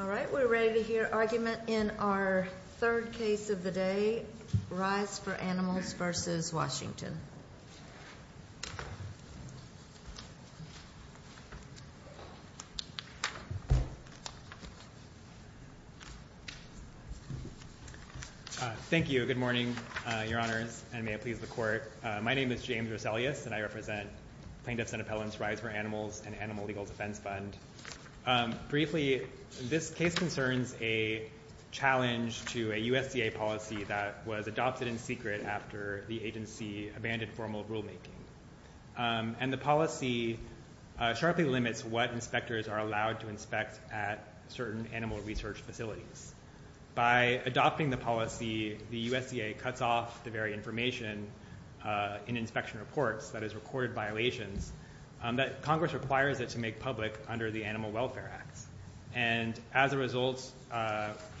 All right, we're ready to hear argument in our third case of the day. Rise for Animals v. Washington Thank you. Good morning, Your Honors, and may it please the Court. My name is James Roselius, and I represent Plaintiffs' and Appellants' Rise for Animals and Animal Legal Defense Fund. Briefly, this case concerns a challenge to a USDA policy that was adopted in secret after the agency abandoned formal rulemaking. And the policy sharply limits what inspectors are allowed to inspect at certain animal research facilities. By adopting the policy, the USDA cuts off the very information in inspection reports, that is, recorded violations, that Congress requires it to make public under the Animal Welfare Act. And as a result,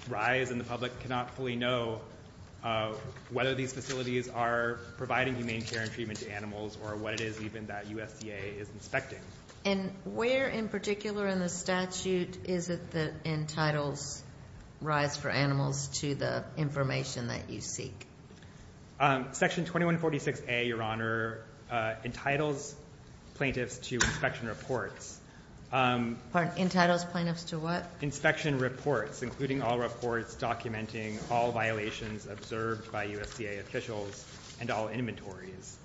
Rise and the public cannot fully know whether these facilities are providing humane care and treatment to animals or what it is even that USDA is inspecting. And where in particular in the statute is it that entitles Rise for Animals to the information that you seek? Section 2146A, Your Honor, entitles plaintiffs to inspection reports. Pardon? Entitles plaintiffs to what? Inspection reports, including all reports documenting all violations observed by USDA officials and all inventories.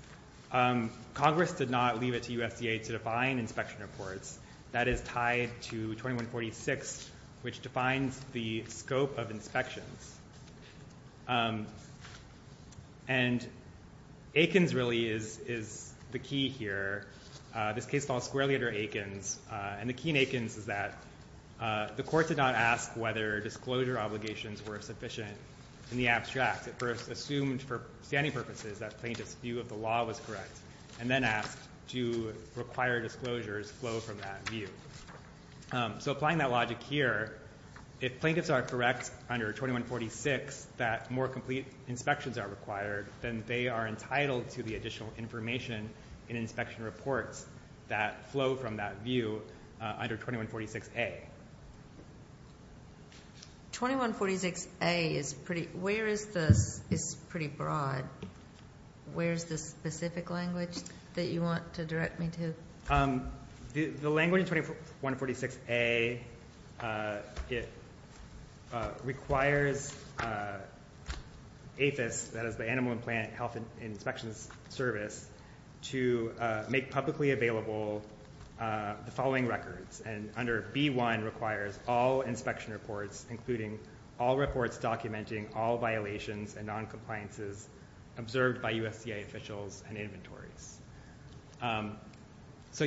Congress did not leave it to USDA to define inspection reports. That is tied to 2146, which defines the scope of inspections. And Aikens really is the key here. This case falls squarely under Aikens. And the key in Aikens is that the court did not ask whether disclosure obligations were sufficient in the abstract. It first assumed for standing purposes that plaintiff's view of the law was correct, and then asked do required disclosures flow from that view. So applying that logic here, if plaintiffs are correct under 2146 that more complete inspections are required, then they are entitled to the additional information in inspection reports that flow from that view under 2146A. 2146A is pretty broad. Where is the specific language that you want to direct me to? The language in 2146A requires APHIS, that is the Animal and Plant Health Inspection Service, to make publicly available the following records. And under B1 requires all inspection reports, including all reports documenting all violations and noncompliances observed by USDA officials and inventories. So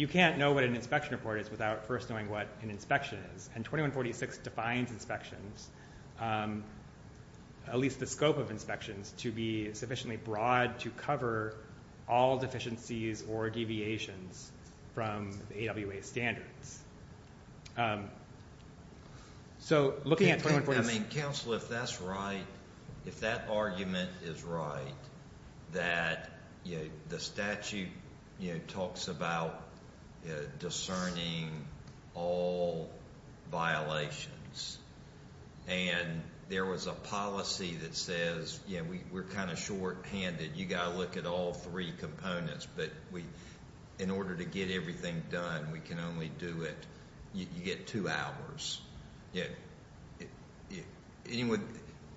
you can't know what an inspection report is without first knowing what an inspection is. And 2146 defines inspections, at least the scope of inspections, to be sufficiently broad to cover all deficiencies or deviations from the AWA standards. So looking at 2146... I mean, counsel, if that's right, if that argument is right, that the statute talks about discerning all violations, and there was a policy that says we're kind of shorthanded, you've got to look at all three components, but in order to get everything done, we can only do it, you get two hours.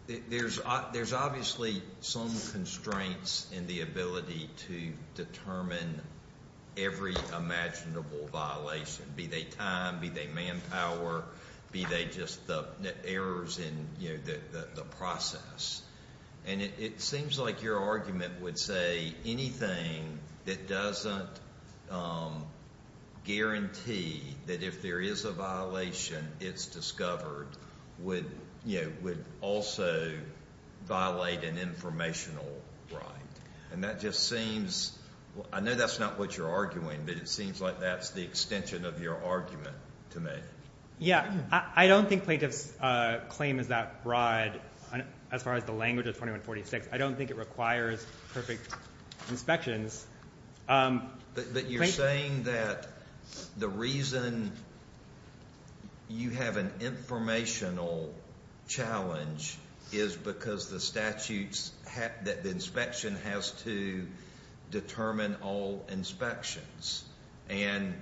There's obviously some constraints in the ability to determine every imaginable violation, be they time, be they manpower, be they just the errors in the process. And it seems like your argument would say anything that doesn't guarantee that if there is a violation it's discovered would also violate an informational right. And that just seems... I know that's not what you're arguing, but it seems like that's the extension of your argument to me. Yeah, I don't think plaintiff's claim is that broad as far as the language of 2146. I don't think it requires perfect inspections. But you're saying that the reason you have an informational challenge is because the statute's... the inspection has to determine all inspections. And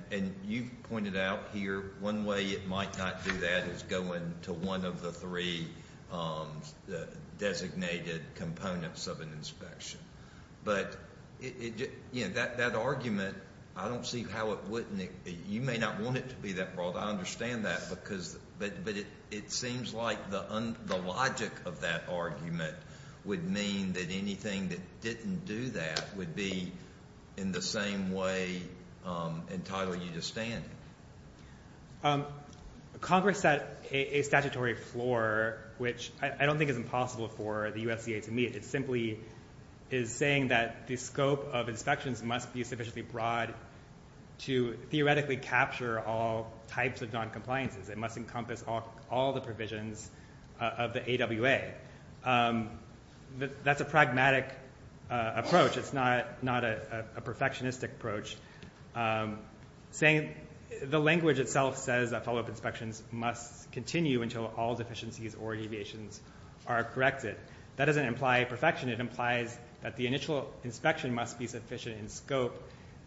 you've pointed out here one way it might not do that is going to one of the three designated components of an inspection. But that argument, I don't see how it wouldn't... you may not want it to be that broad, I understand that, but it seems like the logic of that argument would mean that anything that didn't do that would be in the same way entitling you to stand. Congress set a statutory floor, which I don't think is impossible for the USDA to meet. It simply is saying that the scope of inspections must be sufficiently broad to theoretically capture all types of noncompliances. It must encompass all the provisions of the AWA. Okay, that's a pragmatic approach. It's not a perfectionistic approach. The language itself says that follow-up inspections must continue until all deficiencies or deviations are corrected. That doesn't imply perfection. It implies that the initial inspection must be sufficient in scope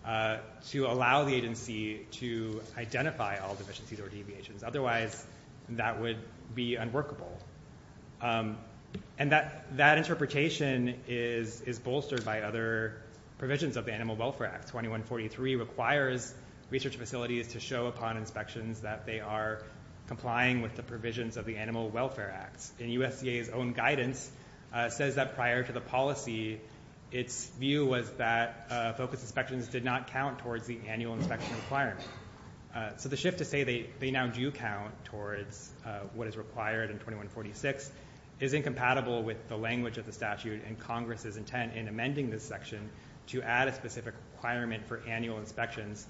to allow the agency to identify all deficiencies or deviations. Otherwise, that would be unworkable. And that interpretation is bolstered by other provisions of the Animal Welfare Act. 2143 requires research facilities to show upon inspections that they are complying with the provisions of the Animal Welfare Act. And USDA's own guidance says that prior to the policy, its view was that focus inspections did not count towards the annual inspection requirement. So the shift to say they now do count towards what is required in 2146 is incompatible with the language of the statute and Congress's intent in amending this section to add a specific requirement for annual inspections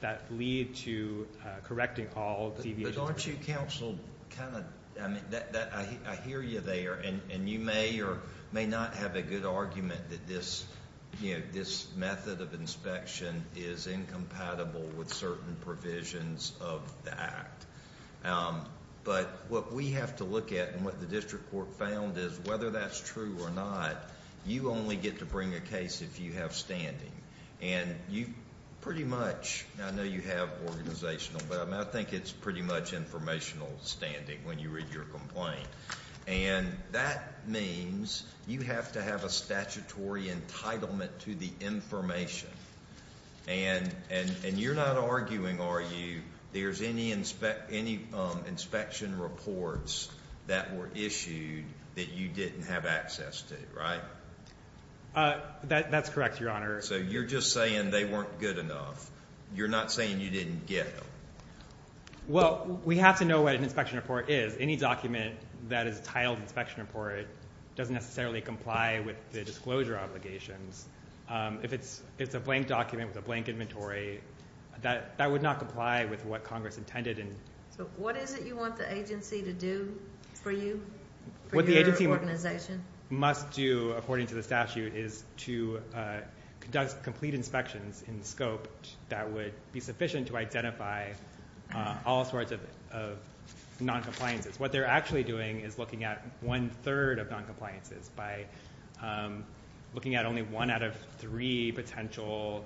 that lead to correcting all deviations. But aren't you counseled? I hear you there, and you may or may not have a good argument that this method of inspection is incompatible with certain provisions of the Act. But what we have to look at and what the district court found is whether that's true or not, you only get to bring a case if you have standing. And you pretty much, I know you have organizational, but I think it's pretty much informational standing when you read your complaint. And that means you have to have a statutory entitlement to the information. And you're not arguing, are you, there's any inspection reports that were issued that you didn't have access to, right? That's correct, Your Honor. So you're just saying they weren't good enough. You're not saying you didn't get them. Well, we have to know what an inspection report is. Because any document that is titled inspection report doesn't necessarily comply with the disclosure obligations. If it's a blank document with a blank inventory, that would not comply with what Congress intended. So what is it you want the agency to do for you, for your organization? What the agency must do, according to the statute, is to conduct complete inspections in the scope that would be sufficient to identify all sorts of noncompliances. What they're actually doing is looking at one-third of noncompliances by looking at only one out of three potential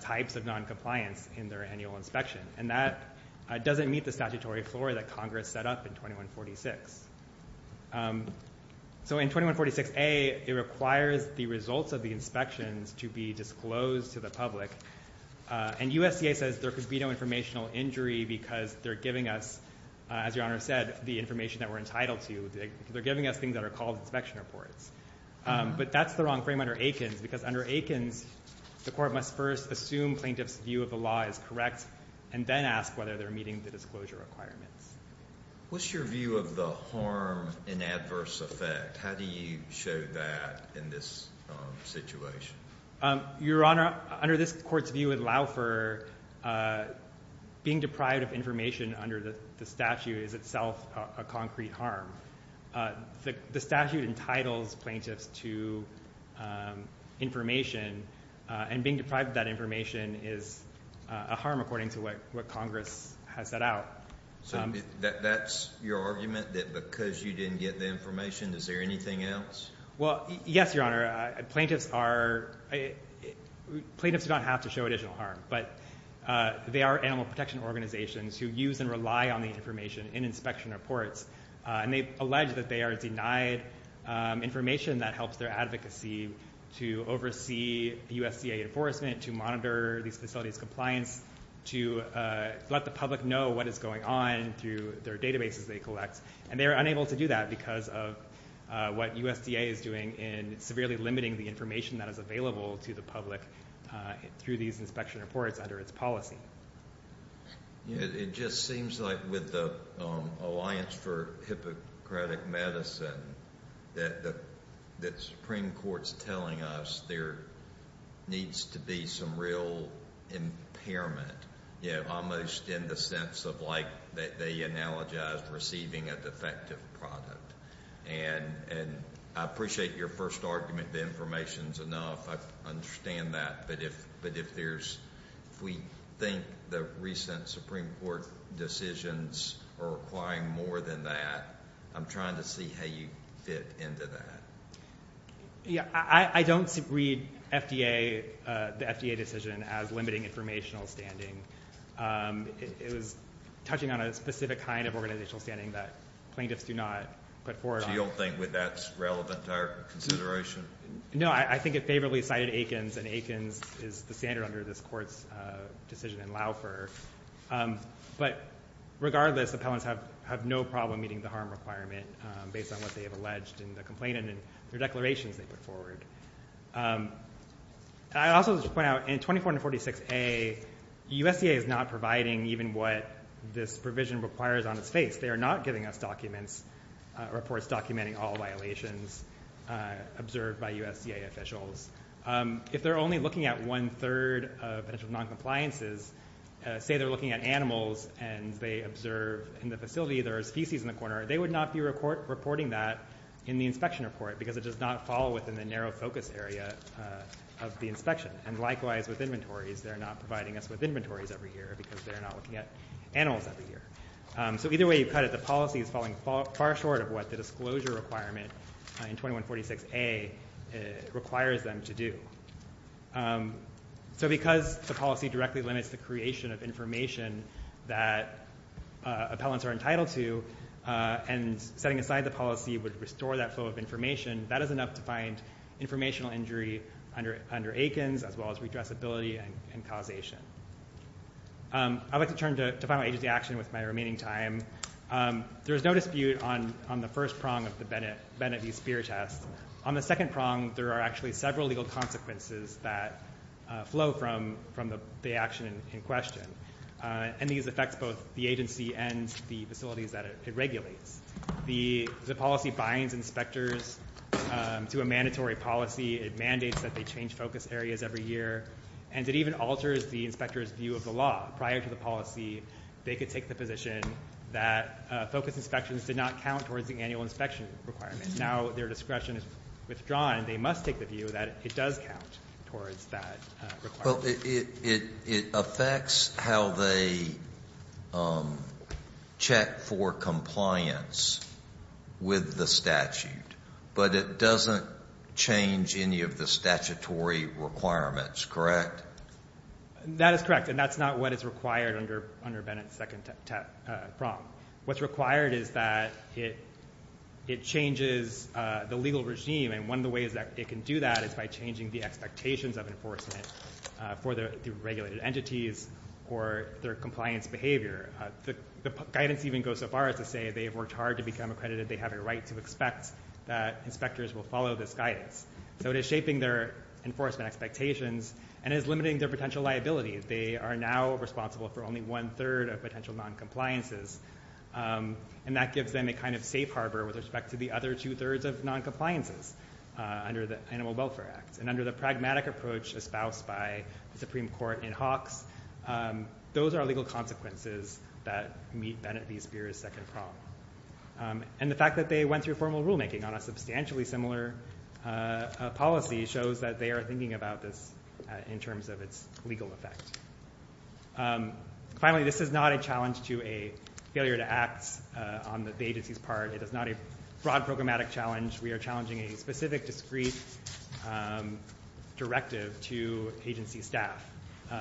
types of noncompliance in their annual inspection. And that doesn't meet the statutory floor that Congress set up in 2146. So in 2146A, it requires the results of the inspections to be disclosed to the public. And USDA says there could be no informational injury because they're giving us, as Your Honor said, the information that we're entitled to. They're giving us things that are called inspection reports. But that's the wrong frame under Aikens, because under Aikens, the court must first assume plaintiff's view of the law is correct and then ask whether they're meeting the disclosure requirements. What's your view of the harm in adverse effect? How do you show that in this situation? Your Honor, under this court's view at Laufer, being deprived of information under the statute is itself a concrete harm. The statute entitles plaintiffs to information, and being deprived of that information is a harm according to what Congress has set out. So that's your argument, that because you didn't get the information, is there anything else? Well, yes, Your Honor. Plaintiffs do not have to show additional harm, but they are animal protection organizations who use and rely on the information in inspection reports. And they've alleged that they are denied information that helps their advocacy to oversee the USDA enforcement, to monitor these facilities' compliance, to let the public know what is going on through their databases they collect. And they are unable to do that because of what USDA is doing in severely limiting the information that is available to the public through these inspection reports under its policy. It just seems like with the Alliance for Hippocratic Medicine that the Supreme Court is telling us there needs to be some real impairment, almost in the sense of like they analogize receiving a defective product. And I appreciate your first argument that information is enough. I understand that. But if we think the recent Supreme Court decisions are requiring more than that, I'm trying to see how you fit into that. I don't read the FDA decision as limiting informational standing. It was touching on a specific kind of organizational standing that plaintiffs do not put forward. So you don't think that's relevant to our consideration? No, I think it favorably cited Aikens, and Aikens is the standard under this court's decision in Laufer. But regardless, appellants have no problem meeting the harm requirement based on what they have alleged in the complaint and in their declarations they put forward. I also just want to point out in 2446A, USDA is not providing even what this provision requires on its face. They are not giving us documents or, of course, documenting all violations observed by USDA officials. If they're only looking at one-third of potential noncompliances, say they're looking at animals and they observe in the facility there are feces in the corner, they would not be reporting that in the inspection report because it does not fall within the narrow focus area of the inspection. And likewise with inventories, they're not providing us with inventories every year because they're not looking at animals every year. So either way you cut it, the policy is falling far short of what the disclosure requirement in 2146A requires them to do. So because the policy directly limits the creation of information that appellants are entitled to and setting aside the policy would restore that flow of information, that is enough to find informational injury under Aikens as well as redressability and causation. I'd like to turn to final agency action with my remaining time. There is no dispute on the first prong of the Bennett v. Speer test. On the second prong, there are actually several legal consequences that flow from the action in question. And these affect both the agency and the facilities that it regulates. The policy binds inspectors to a mandatory policy. It mandates that they change focus areas every year, and it even alters the inspector's view of the law. Prior to the policy, they could take the position that focus inspections did not count towards the annual inspection requirements. Now their discretion is withdrawn. They must take the view that it does count towards that requirement. Well, it affects how they check for compliance with the statute, but it doesn't change any of the statutory requirements, correct? That is correct, and that's not what is required under Bennett's second prong. What's required is that it changes the legal regime, and one of the ways that it can do that is by changing the expectations of enforcement for the regulated entities or their compliance behavior. The guidance even goes so far as to say they have worked hard to become accredited. They have a right to expect that inspectors will follow this guidance. So it is shaping their enforcement expectations and is limiting their potential liability. They are now responsible for only one-third of potential noncompliances, and that gives them a kind of safe harbor with respect to the other two-thirds of noncompliances under the Animal Welfare Act. And under the pragmatic approach espoused by the Supreme Court in Hawks, those are legal consequences that meet Bennett v. Spears' second prong. And the fact that they went through formal rulemaking on a substantially similar policy shows that they are thinking about this in terms of its legal effect. Finally, this is not a challenge to a failure to act on the agency's part. It is not a broad programmatic challenge. We are challenging a specific, discreet directive to agency staff.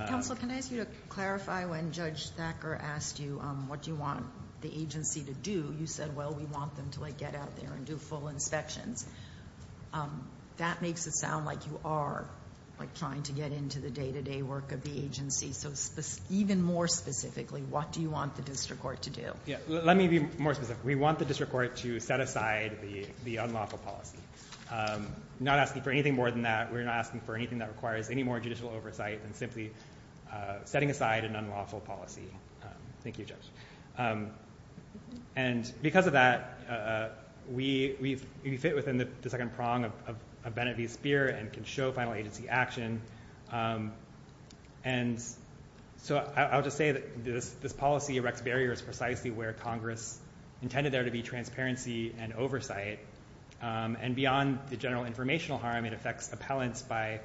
Counsel, can I ask you to clarify when Judge Thacker asked you what you want the agency to do, you said, well, we want them to get out there and do full inspections. That makes it sound like you are trying to get into the day-to-day work of the agency. So even more specifically, what do you want the district court to do? Let me be more specific. We want the district court to set aside the unlawful policy. We're not asking for anything more than that. We're not asking for anything that requires any more judicial oversight than simply setting aside an unlawful policy. Thank you, Judge. And because of that, we fit within the second prong of Bennett v. Spears and can show final agency action. And so I'll just say that this policy erects barriers precisely where Congress intended there to be transparency and oversight. And beyond the general informational harm, it affects appellants by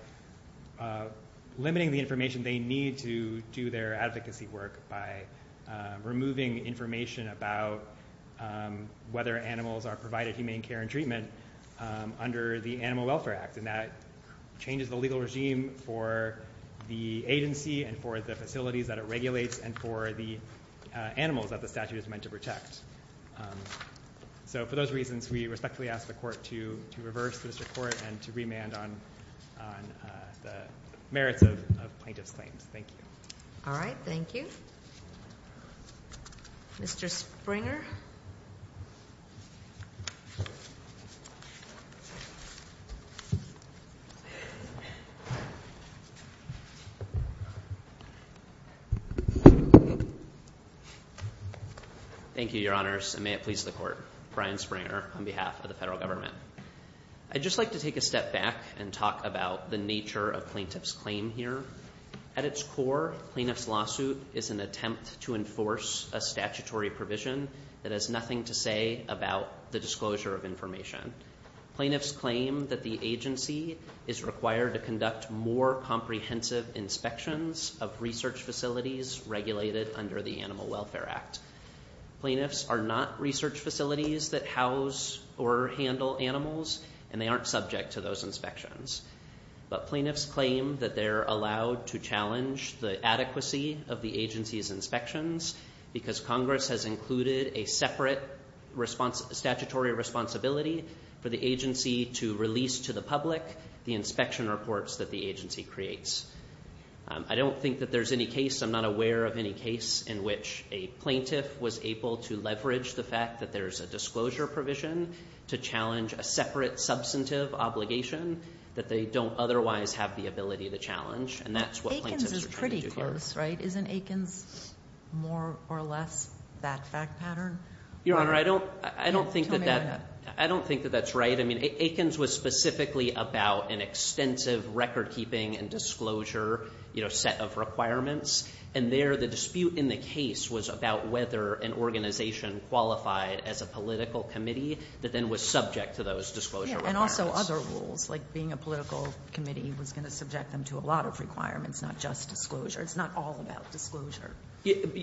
limiting the information they need to do their advocacy work by removing information about whether animals are provided humane care and treatment under the Animal Welfare Act. And that changes the legal regime for the agency and for the facilities that it regulates and for the animals that the statute is meant to protect. So for those reasons, we respectfully ask the court to reverse the district court and to remand on the merits of plaintiff's claims. Thank you. All right. Thank you. Mr. Springer. Thank you, Your Honors, and may it please the court. Brian Springer on behalf of the federal government. I'd just like to take a step back and talk about the nature of plaintiff's claim here. At its core, plaintiff's lawsuit is an attempt to enforce a statutory provision that has nothing to say about the disclosure of information. Plaintiff's claim that the agency is required to conduct more comprehensive inspections of research facilities regulated under the Animal Welfare Act. Plaintiffs are not research facilities that house or handle animals, and they aren't subject to those inspections. But plaintiffs claim that they're allowed to challenge the adequacy of the agency's inspections because Congress has included a separate statutory responsibility for the agency to release to the public the inspection reports that the agency creates. I don't think that there's any case, I'm not aware of any case, in which a plaintiff was able to leverage the fact that there's a disclosure provision to challenge a separate substantive obligation that they don't otherwise have the ability to challenge, and that's what plaintiffs are trying to do here. Aikens is pretty close, right? Isn't Aikens more or less that fact pattern? Your Honor, I don't think that that's right. I mean, Aikens was specifically about an extensive record-keeping and disclosure set of requirements, and there the dispute in the case was about whether an organization qualified as a political committee that then was subject to those disclosure requirements. And also other rules, like being a political committee was going to subject them to a lot of requirements, not just disclosure. It's not all about disclosure.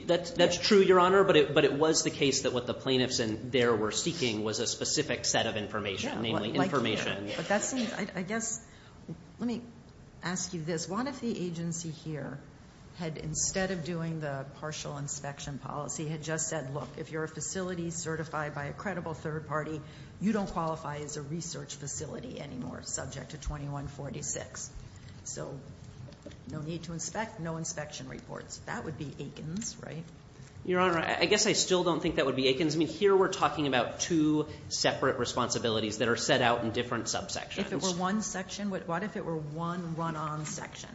That's true, Your Honor, but it was the case that what the plaintiffs in there were seeking was a specific set of information, namely information. But that seems, I guess, let me ask you this. What if the agency here had, instead of doing the partial inspection policy, had just said, look, if you're a facility certified by a credible third party, you don't qualify as a research facility anymore subject to 2146? So no need to inspect, no inspection reports. That would be Aikens, right? Your Honor, I guess I still don't think that would be Aikens. I mean, here we're talking about two separate responsibilities that are set out in different subsections. If it were one section, what if it were one run-on section,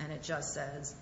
and it just says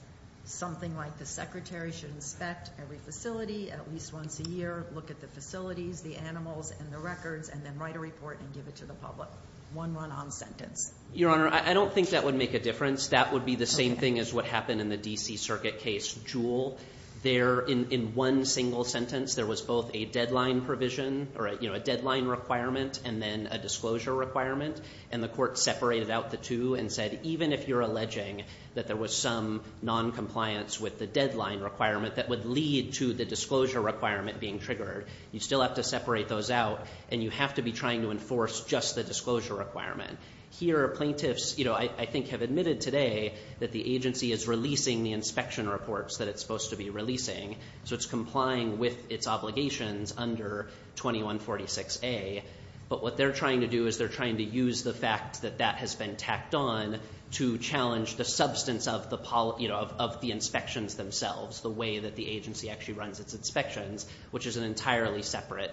something like the secretary should inspect every facility at least once a year, look at the facilities, the animals, and the records, and then write a report and give it to the public? One run-on sentence. Your Honor, I don't think that would make a difference. That would be the same thing as what happened in the D.C. Circuit case Jewell. There, in one single sentence, there was both a deadline provision or a deadline requirement and then a disclosure requirement, and the court separated out the two and said, even if you're alleging that there was some noncompliance with the deadline requirement that would lead to the disclosure requirement being triggered, you still have to separate those out, and you have to be trying to enforce just the disclosure requirement. Here, plaintiffs, you know, I think have admitted today that the agency is releasing the inspection reports that it's supposed to be releasing, so it's complying with its obligations under 2146A, but what they're trying to do is they're trying to use the fact that that has been tacked on to challenge the substance of the inspections themselves, the way that the agency actually runs its inspections, which is an entirely separate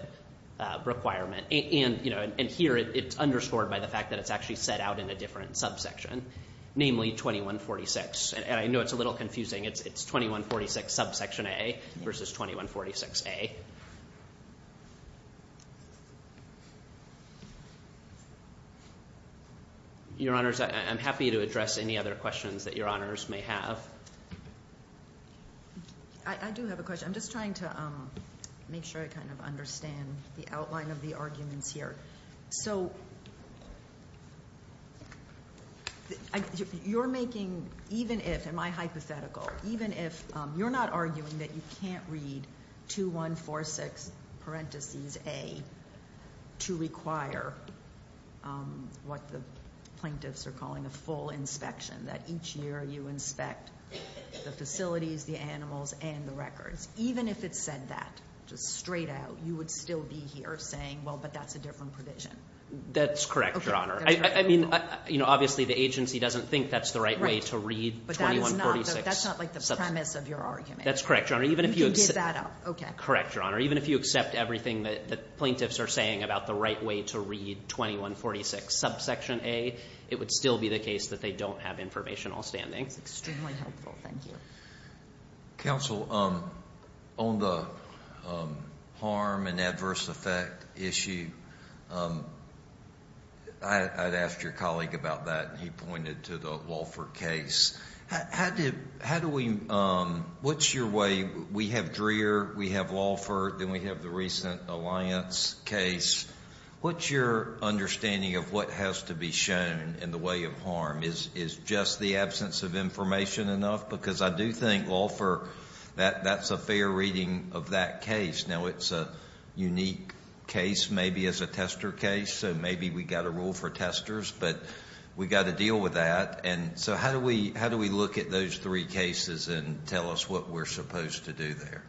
requirement, and here it's underscored by the fact that it's actually set out in a different subsection, namely 2146, and I know it's a little confusing. It's 2146 subsection A versus 2146A. Your Honors, I'm happy to address any other questions that Your Honors may have. I do have a question. I'm just trying to make sure I kind of understand the outline of the arguments here. So you're making, even if, am I hypothetical, even if you're not arguing that you can't read 2146 parentheses A to require what the plaintiffs are calling a full inspection, that each year you inspect the facilities, the animals, and the records. Even if it said that, just straight out, you would still be here saying, well, but that's a different provision. That's correct, Your Honor. I mean, obviously the agency doesn't think that's the right way to read 2146. But that's not like the premise of your argument. That's correct, Your Honor. You can give that up. Correct, Your Honor. Even if you accept everything that the plaintiffs are saying about the right way to read 2146 subsection A, it would still be the case that they don't have information outstanding. That's extremely helpful. Thank you. Counsel, on the harm and adverse effect issue, I'd asked your colleague about that, and he pointed to the Walford case. How do we, what's your way, we have Dreher, we have Walford, then we have the recent Alliance case. What's your understanding of what has to be shown in the way of harm? Is just the absence of information enough? Because I do think Walford, that's a fair reading of that case. Now, it's a unique case maybe as a tester case, so maybe we've got a rule for testers, but we've got to deal with that. And so how do we look at those three cases and tell us what we're supposed to do there?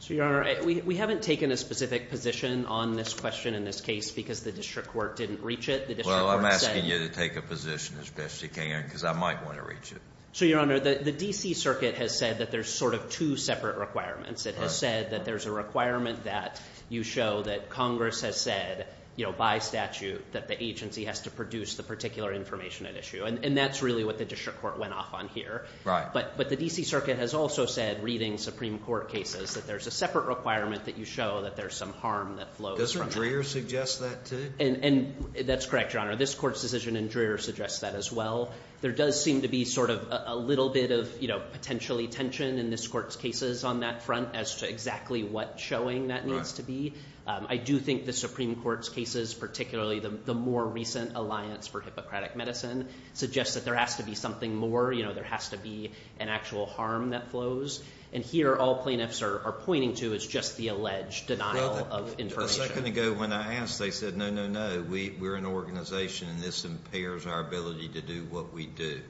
So, Your Honor, we haven't taken a specific position on this question in this case because the district court didn't reach it. Well, I'm asking you to take a position as best you can because I might want to reach it. So, Your Honor, the D.C. Circuit has said that there's sort of two separate requirements. It has said that there's a requirement that you show that Congress has said, you know, by statute that the agency has to produce the particular information at issue, and that's really what the district court went off on here. Right. But the D.C. Circuit has also said, reading Supreme Court cases, that there's a separate requirement that you show that there's some harm that flows from that. Doesn't Dreher suggest that too? And that's correct, Your Honor. This Court's decision in Dreher suggests that as well. There does seem to be sort of a little bit of, you know, potentially tension in this Court's cases on that front as to exactly what showing that needs to be. Right. I do think the Supreme Court's cases, particularly the more recent alliance for Hippocratic Medicine, suggests that there has to be something more. You know, there has to be an actual harm that flows. And here all plaintiffs are pointing to is just the alleged denial of information. Well, a second ago when I asked, they said, no, no, no. We're an organization, and this impairs our ability to do what we do.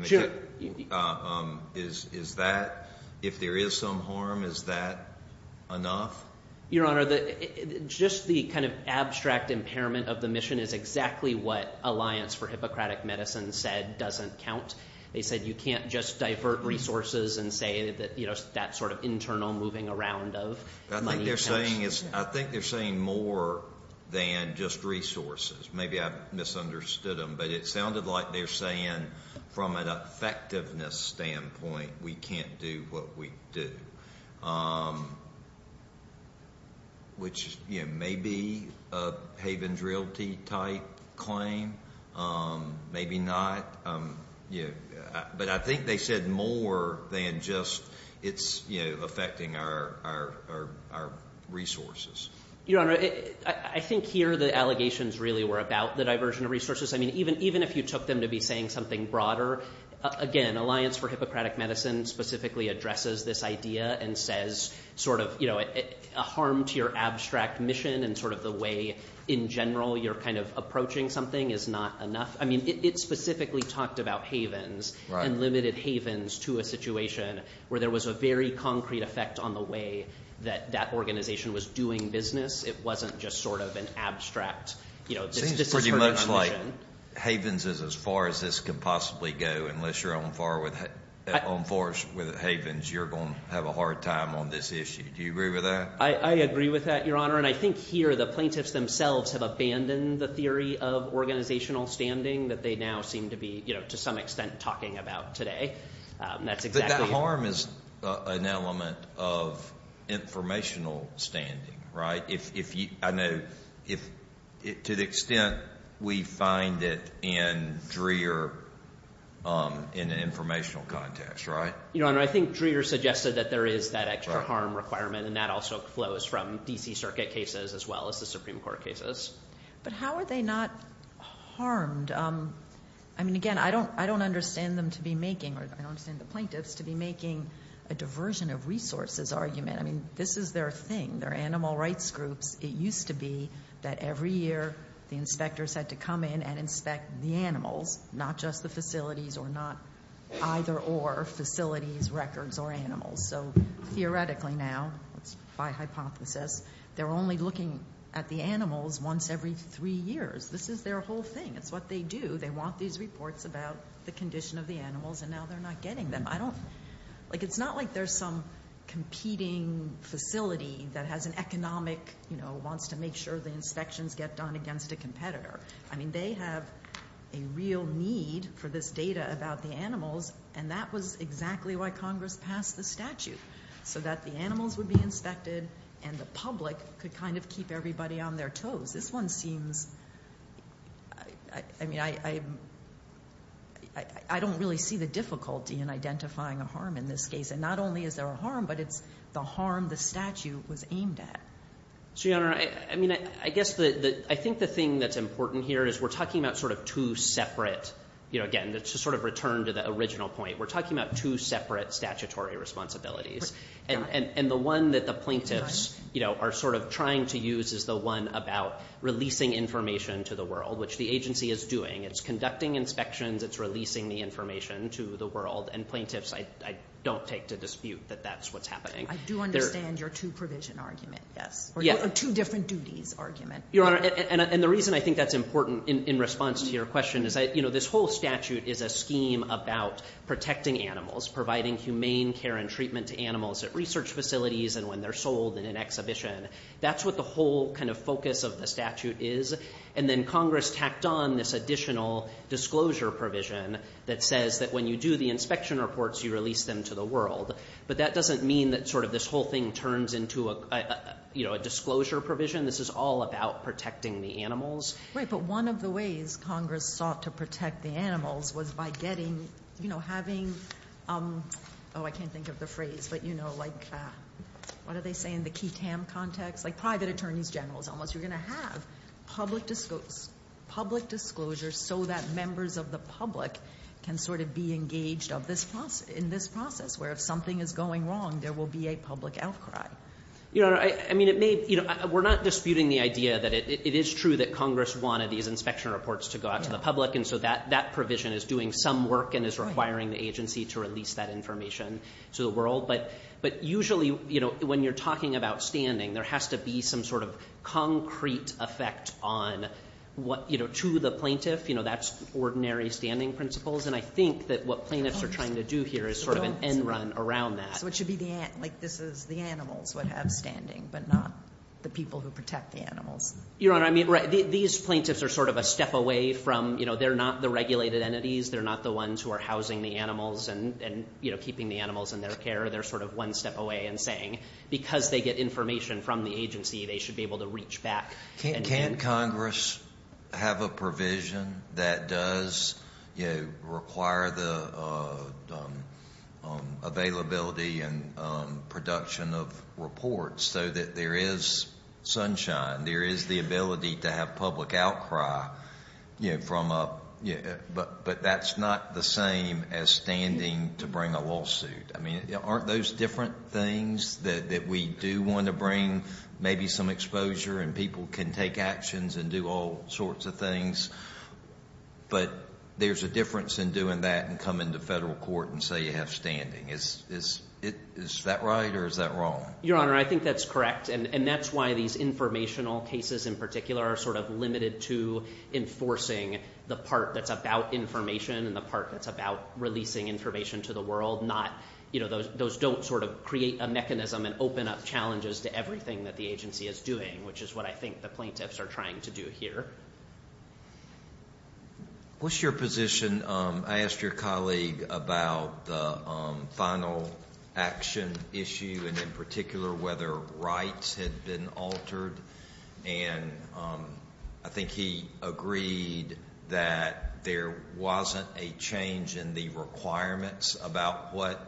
Is that, if there is some harm, is that enough? Your Honor, just the kind of abstract impairment of the mission is exactly what alliance for Hippocratic Medicine said doesn't count. They said you can't just divert resources and say that, you know, that sort of internal moving around of money. I think they're saying more than just resources. Maybe I've misunderstood them, but it sounded like they're saying from an effectiveness standpoint, we can't do what we do, which, you know, may be a Haven's Realty type claim, maybe not. But I think they said more than just it's, you know, affecting our resources. Your Honor, I think here the allegations really were about the diversion of resources. I mean, even if you took them to be saying something broader, again, alliance for Hippocratic Medicine specifically addresses this idea and says sort of, you know, a harm to your abstract mission and sort of the way in general you're kind of approaching something is not enough. I mean, it specifically talked about Havens and limited Havens to a situation where there was a very concrete effect on the way that that organization was doing business. It wasn't just sort of an abstract, you know, this is her mission. It seems pretty much like Havens is as far as this could possibly go, unless you're on far with Havens, you're going to have a hard time on this issue. Do you agree with that? I agree with that, Your Honor, and I think here the plaintiffs themselves have abandoned the theory of organizational standing that they now seem to be, you know, to some extent talking about today. But that harm is an element of informational standing, right? I know to the extent we find it in DREER in an informational context, right? Your Honor, I think DREER suggested that there is that extra harm requirement and that also flows from D.C. Circuit cases as well as the Supreme Court cases. But how are they not harmed? I mean, again, I don't understand them to be making, or I don't understand the plaintiffs to be making a diversion of resources argument. I mean, this is their thing, their animal rights groups. It used to be that every year the inspectors had to come in and inspect the animals, not just the facilities or not either or facilities, records, or animals. So theoretically now, by hypothesis, they're only looking at the animals once every three years. This is their whole thing. It's what they do. They want these reports about the condition of the animals, and now they're not getting them. I don't, like it's not like there's some competing facility that has an economic, you know, wants to make sure the inspections get done against a competitor. I mean, they have a real need for this data about the animals, and that was exactly why Congress passed the statute, so that the animals would be inspected and the public could kind of keep everybody on their toes. This one seems, I mean, I don't really see the difficulty in identifying a harm in this case. And not only is there a harm, but it's the harm the statute was aimed at. So, Your Honor, I mean, I guess I think the thing that's important here is we're talking about sort of two separate, you know, again, to sort of return to the original point, we're talking about two separate statutory responsibilities. And the one that the plaintiffs, you know, are sort of trying to use is the one about releasing information to the world, which the agency is doing. It's conducting inspections. It's releasing the information to the world. And plaintiffs, I don't take to dispute that that's what's happening. I do understand your two provision argument, yes, or two different duties argument. Your Honor, and the reason I think that's important in response to your question is, you know, this whole statute is a scheme about protecting animals, providing humane care and treatment to animals at research facilities and when they're sold in an exhibition. That's what the whole kind of focus of the statute is. And then Congress tacked on this additional disclosure provision that says that when you do the inspection reports, you release them to the world. But that doesn't mean that sort of this whole thing turns into a, you know, a disclosure provision. This is all about protecting the animals. But one of the ways Congress sought to protect the animals was by getting, you know, having, oh, I can't think of the phrase, but, you know, like what do they say in the key TAM context? Like private attorneys generals almost. You're going to have public disclosure so that members of the public can sort of be engaged in this process where if something is going wrong, there will be a public outcry. You know, I mean, it may, you know, we're not disputing the idea that it is true that Congress wanted these inspection reports to go out to the public. And so that provision is doing some work and is requiring the agency to release that information to the world. But usually, you know, when you're talking about standing, there has to be some sort of concrete effect on what, you know, to the plaintiff. You know, that's ordinary standing principles. And I think that what plaintiffs are trying to do here is sort of an end run around that. So it should be like this is the animals would have standing but not the people who protect the animals. Your Honor, I mean, these plaintiffs are sort of a step away from, you know, they're not the regulated entities. They're not the ones who are housing the animals and, you know, keeping the animals in their care. They're sort of one step away and saying because they get information from the agency, they should be able to reach back. Can't Congress have a provision that does, you know, require the availability and production of reports so that there is sunshine, there is the ability to have public outcry, you know, from a ‑‑ but that's not the same as standing to bring a lawsuit. I mean, aren't those different things that we do want to bring maybe some exposure and people can take actions and do all sorts of things. But there's a difference in doing that and coming to federal court and say you have standing. Is that right or is that wrong? Your Honor, I think that's correct. And that's why these informational cases in particular are sort of limited to enforcing the part that's about information and the part that's about releasing information to the world, not, you know, those don't sort of create a mechanism and open up challenges to everything that the agency is doing, which is what I think the plaintiffs are trying to do here. What's your position? I asked your colleague about the final action issue and in particular whether rights had been altered. And I think he agreed that there wasn't a change in the requirements about what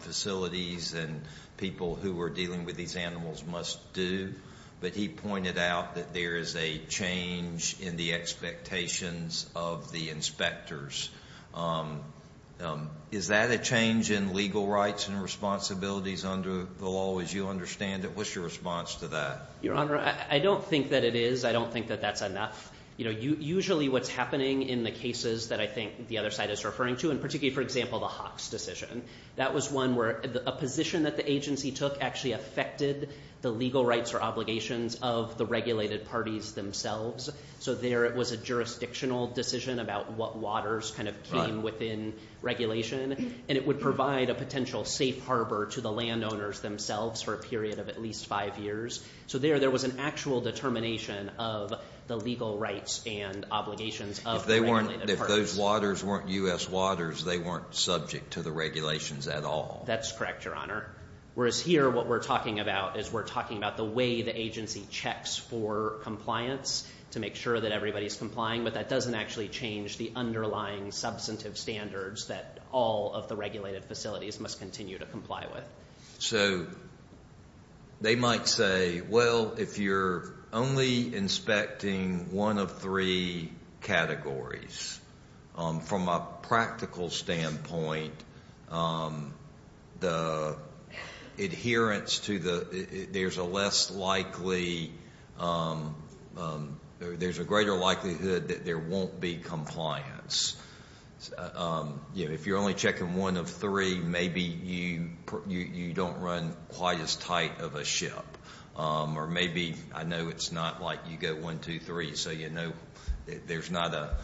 facilities and people who were dealing with these animals must do, but he pointed out that there is a change in the expectations of the inspectors. Is that a change in legal rights and responsibilities under the law as you understand it? And what's your response to that? Your Honor, I don't think that it is. I don't think that that's enough. You know, usually what's happening in the cases that I think the other side is referring to, and particularly, for example, the Hawks decision, that was one where a position that the agency took actually affected the legal rights or obligations of the regulated parties themselves. So there it was a jurisdictional decision about what waters kind of came within regulation, and it would provide a potential safe harbor to the landowners themselves for a period of at least five years. So there, there was an actual determination of the legal rights and obligations of the regulated parties. If those waters weren't U.S. waters, they weren't subject to the regulations at all. That's correct, Your Honor. Whereas here, what we're talking about is we're talking about the way the agency checks for compliance to make sure that everybody's complying, but that doesn't actually change the underlying substantive standards that all of the regulated facilities must continue to comply with. So they might say, well, if you're only inspecting one of three categories, from a practical standpoint, the adherence to the, there's a less likely, there's a greater likelihood that there won't be compliance. If you're only checking one of three, maybe you don't run quite as tight of a ship. Or maybe, I know it's not like you go one, two, three, so you know there's not a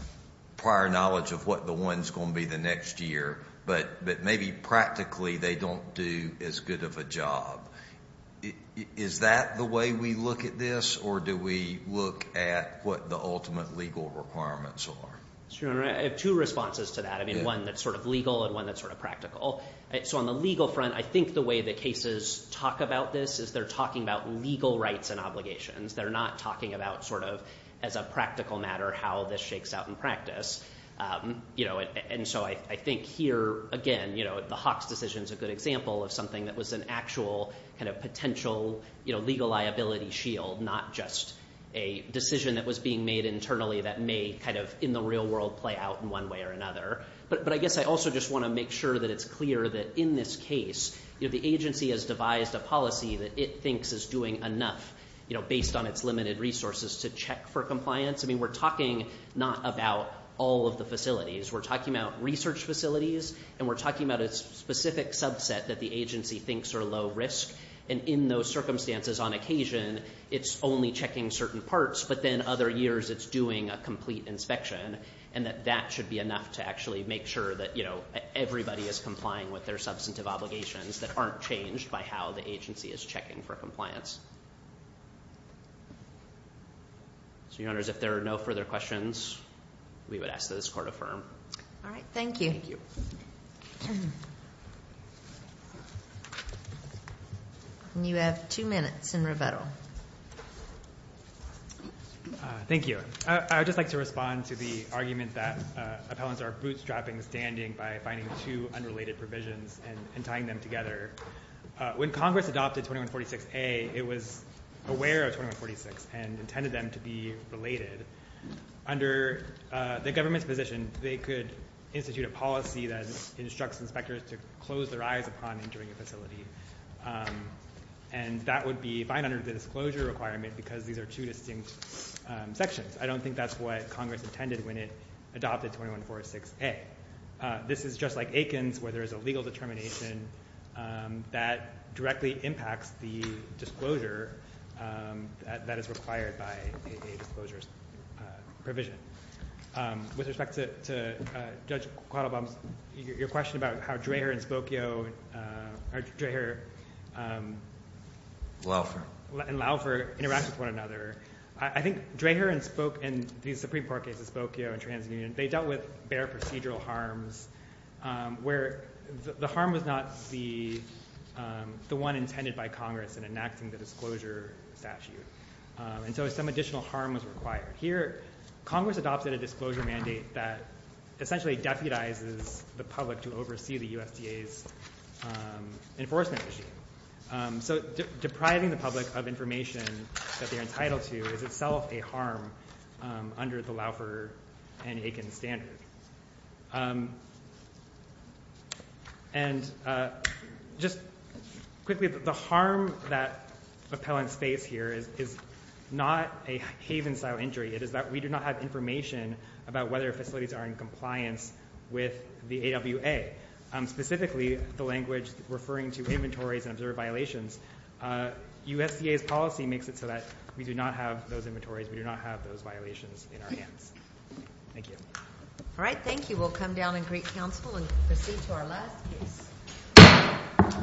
prior knowledge of what the one's going to be the next year, but maybe practically they don't do as good of a job. Is that the way we look at this, or do we look at what the ultimate legal requirements are? Your Honor, I have two responses to that. I mean, one that's sort of legal and one that's sort of practical. So on the legal front, I think the way the cases talk about this is they're talking about legal rights and obligations. They're not talking about sort of as a practical matter how this shakes out in practice. And so I think here, again, the Hawks decision is a good example of something that was an actual kind of potential legal liability shield, not just a decision that was being made internally that may kind of in the real world play out in one way or another. But I guess I also just want to make sure that it's clear that in this case, the agency has devised a policy that it thinks is doing enough based on its limited resources to check for compliance. I mean, we're talking not about all of the facilities. We're talking about research facilities, and we're talking about a specific subset that the agency thinks are low risk, and in those circumstances on occasion it's only checking certain parts, but then other years it's doing a complete inspection, and that that should be enough to actually make sure that, you know, everybody is complying with their substantive obligations that aren't changed by how the agency is checking for compliance. So, Your Honors, if there are no further questions, we would ask that this court affirm. All right. Thank you. And you have two minutes in revettal. Thank you. I would just like to respond to the argument that appellants are bootstrapping standing by finding two unrelated provisions and tying them together. When Congress adopted 2146A, it was aware of 2146 and intended them to be related. Under the government's position, they could institute a policy that instructs inspectors to close their eyes upon entering a facility, and that would be fine under the disclosure requirement because these are two distinct sections. I don't think that's what Congress intended when it adopted 2146A. This is just like Aikens where there is a legal determination that directly impacts the disclosure that is required by a disclosure provision. With respect to Judge Quattlebaum, your question about how Draher and Spokio or Draher and Laufer interact with one another, I think Draher and the Supreme Court cases, Spokio and TransUnion, they dealt with bare procedural harms where the harm was not the one intended by Congress in enacting the disclosure statute. And so some additional harm was required. Here, Congress adopted a disclosure mandate that essentially deputizes the public to oversee the USDA's enforcement regime. So depriving the public of information that they're entitled to is itself a harm under the Laufer and Aikens standard. And just quickly, the harm that appellants face here is not a Haven-style injury. It is that we do not have information about whether facilities are in compliance with the AWA, specifically the language referring to inventories and observed violations. USDA's policy makes it so that we do not have those inventories. We do not have those violations in our hands. Thank you. All right. Thank you. We'll come down and greet counsel and proceed to our last case.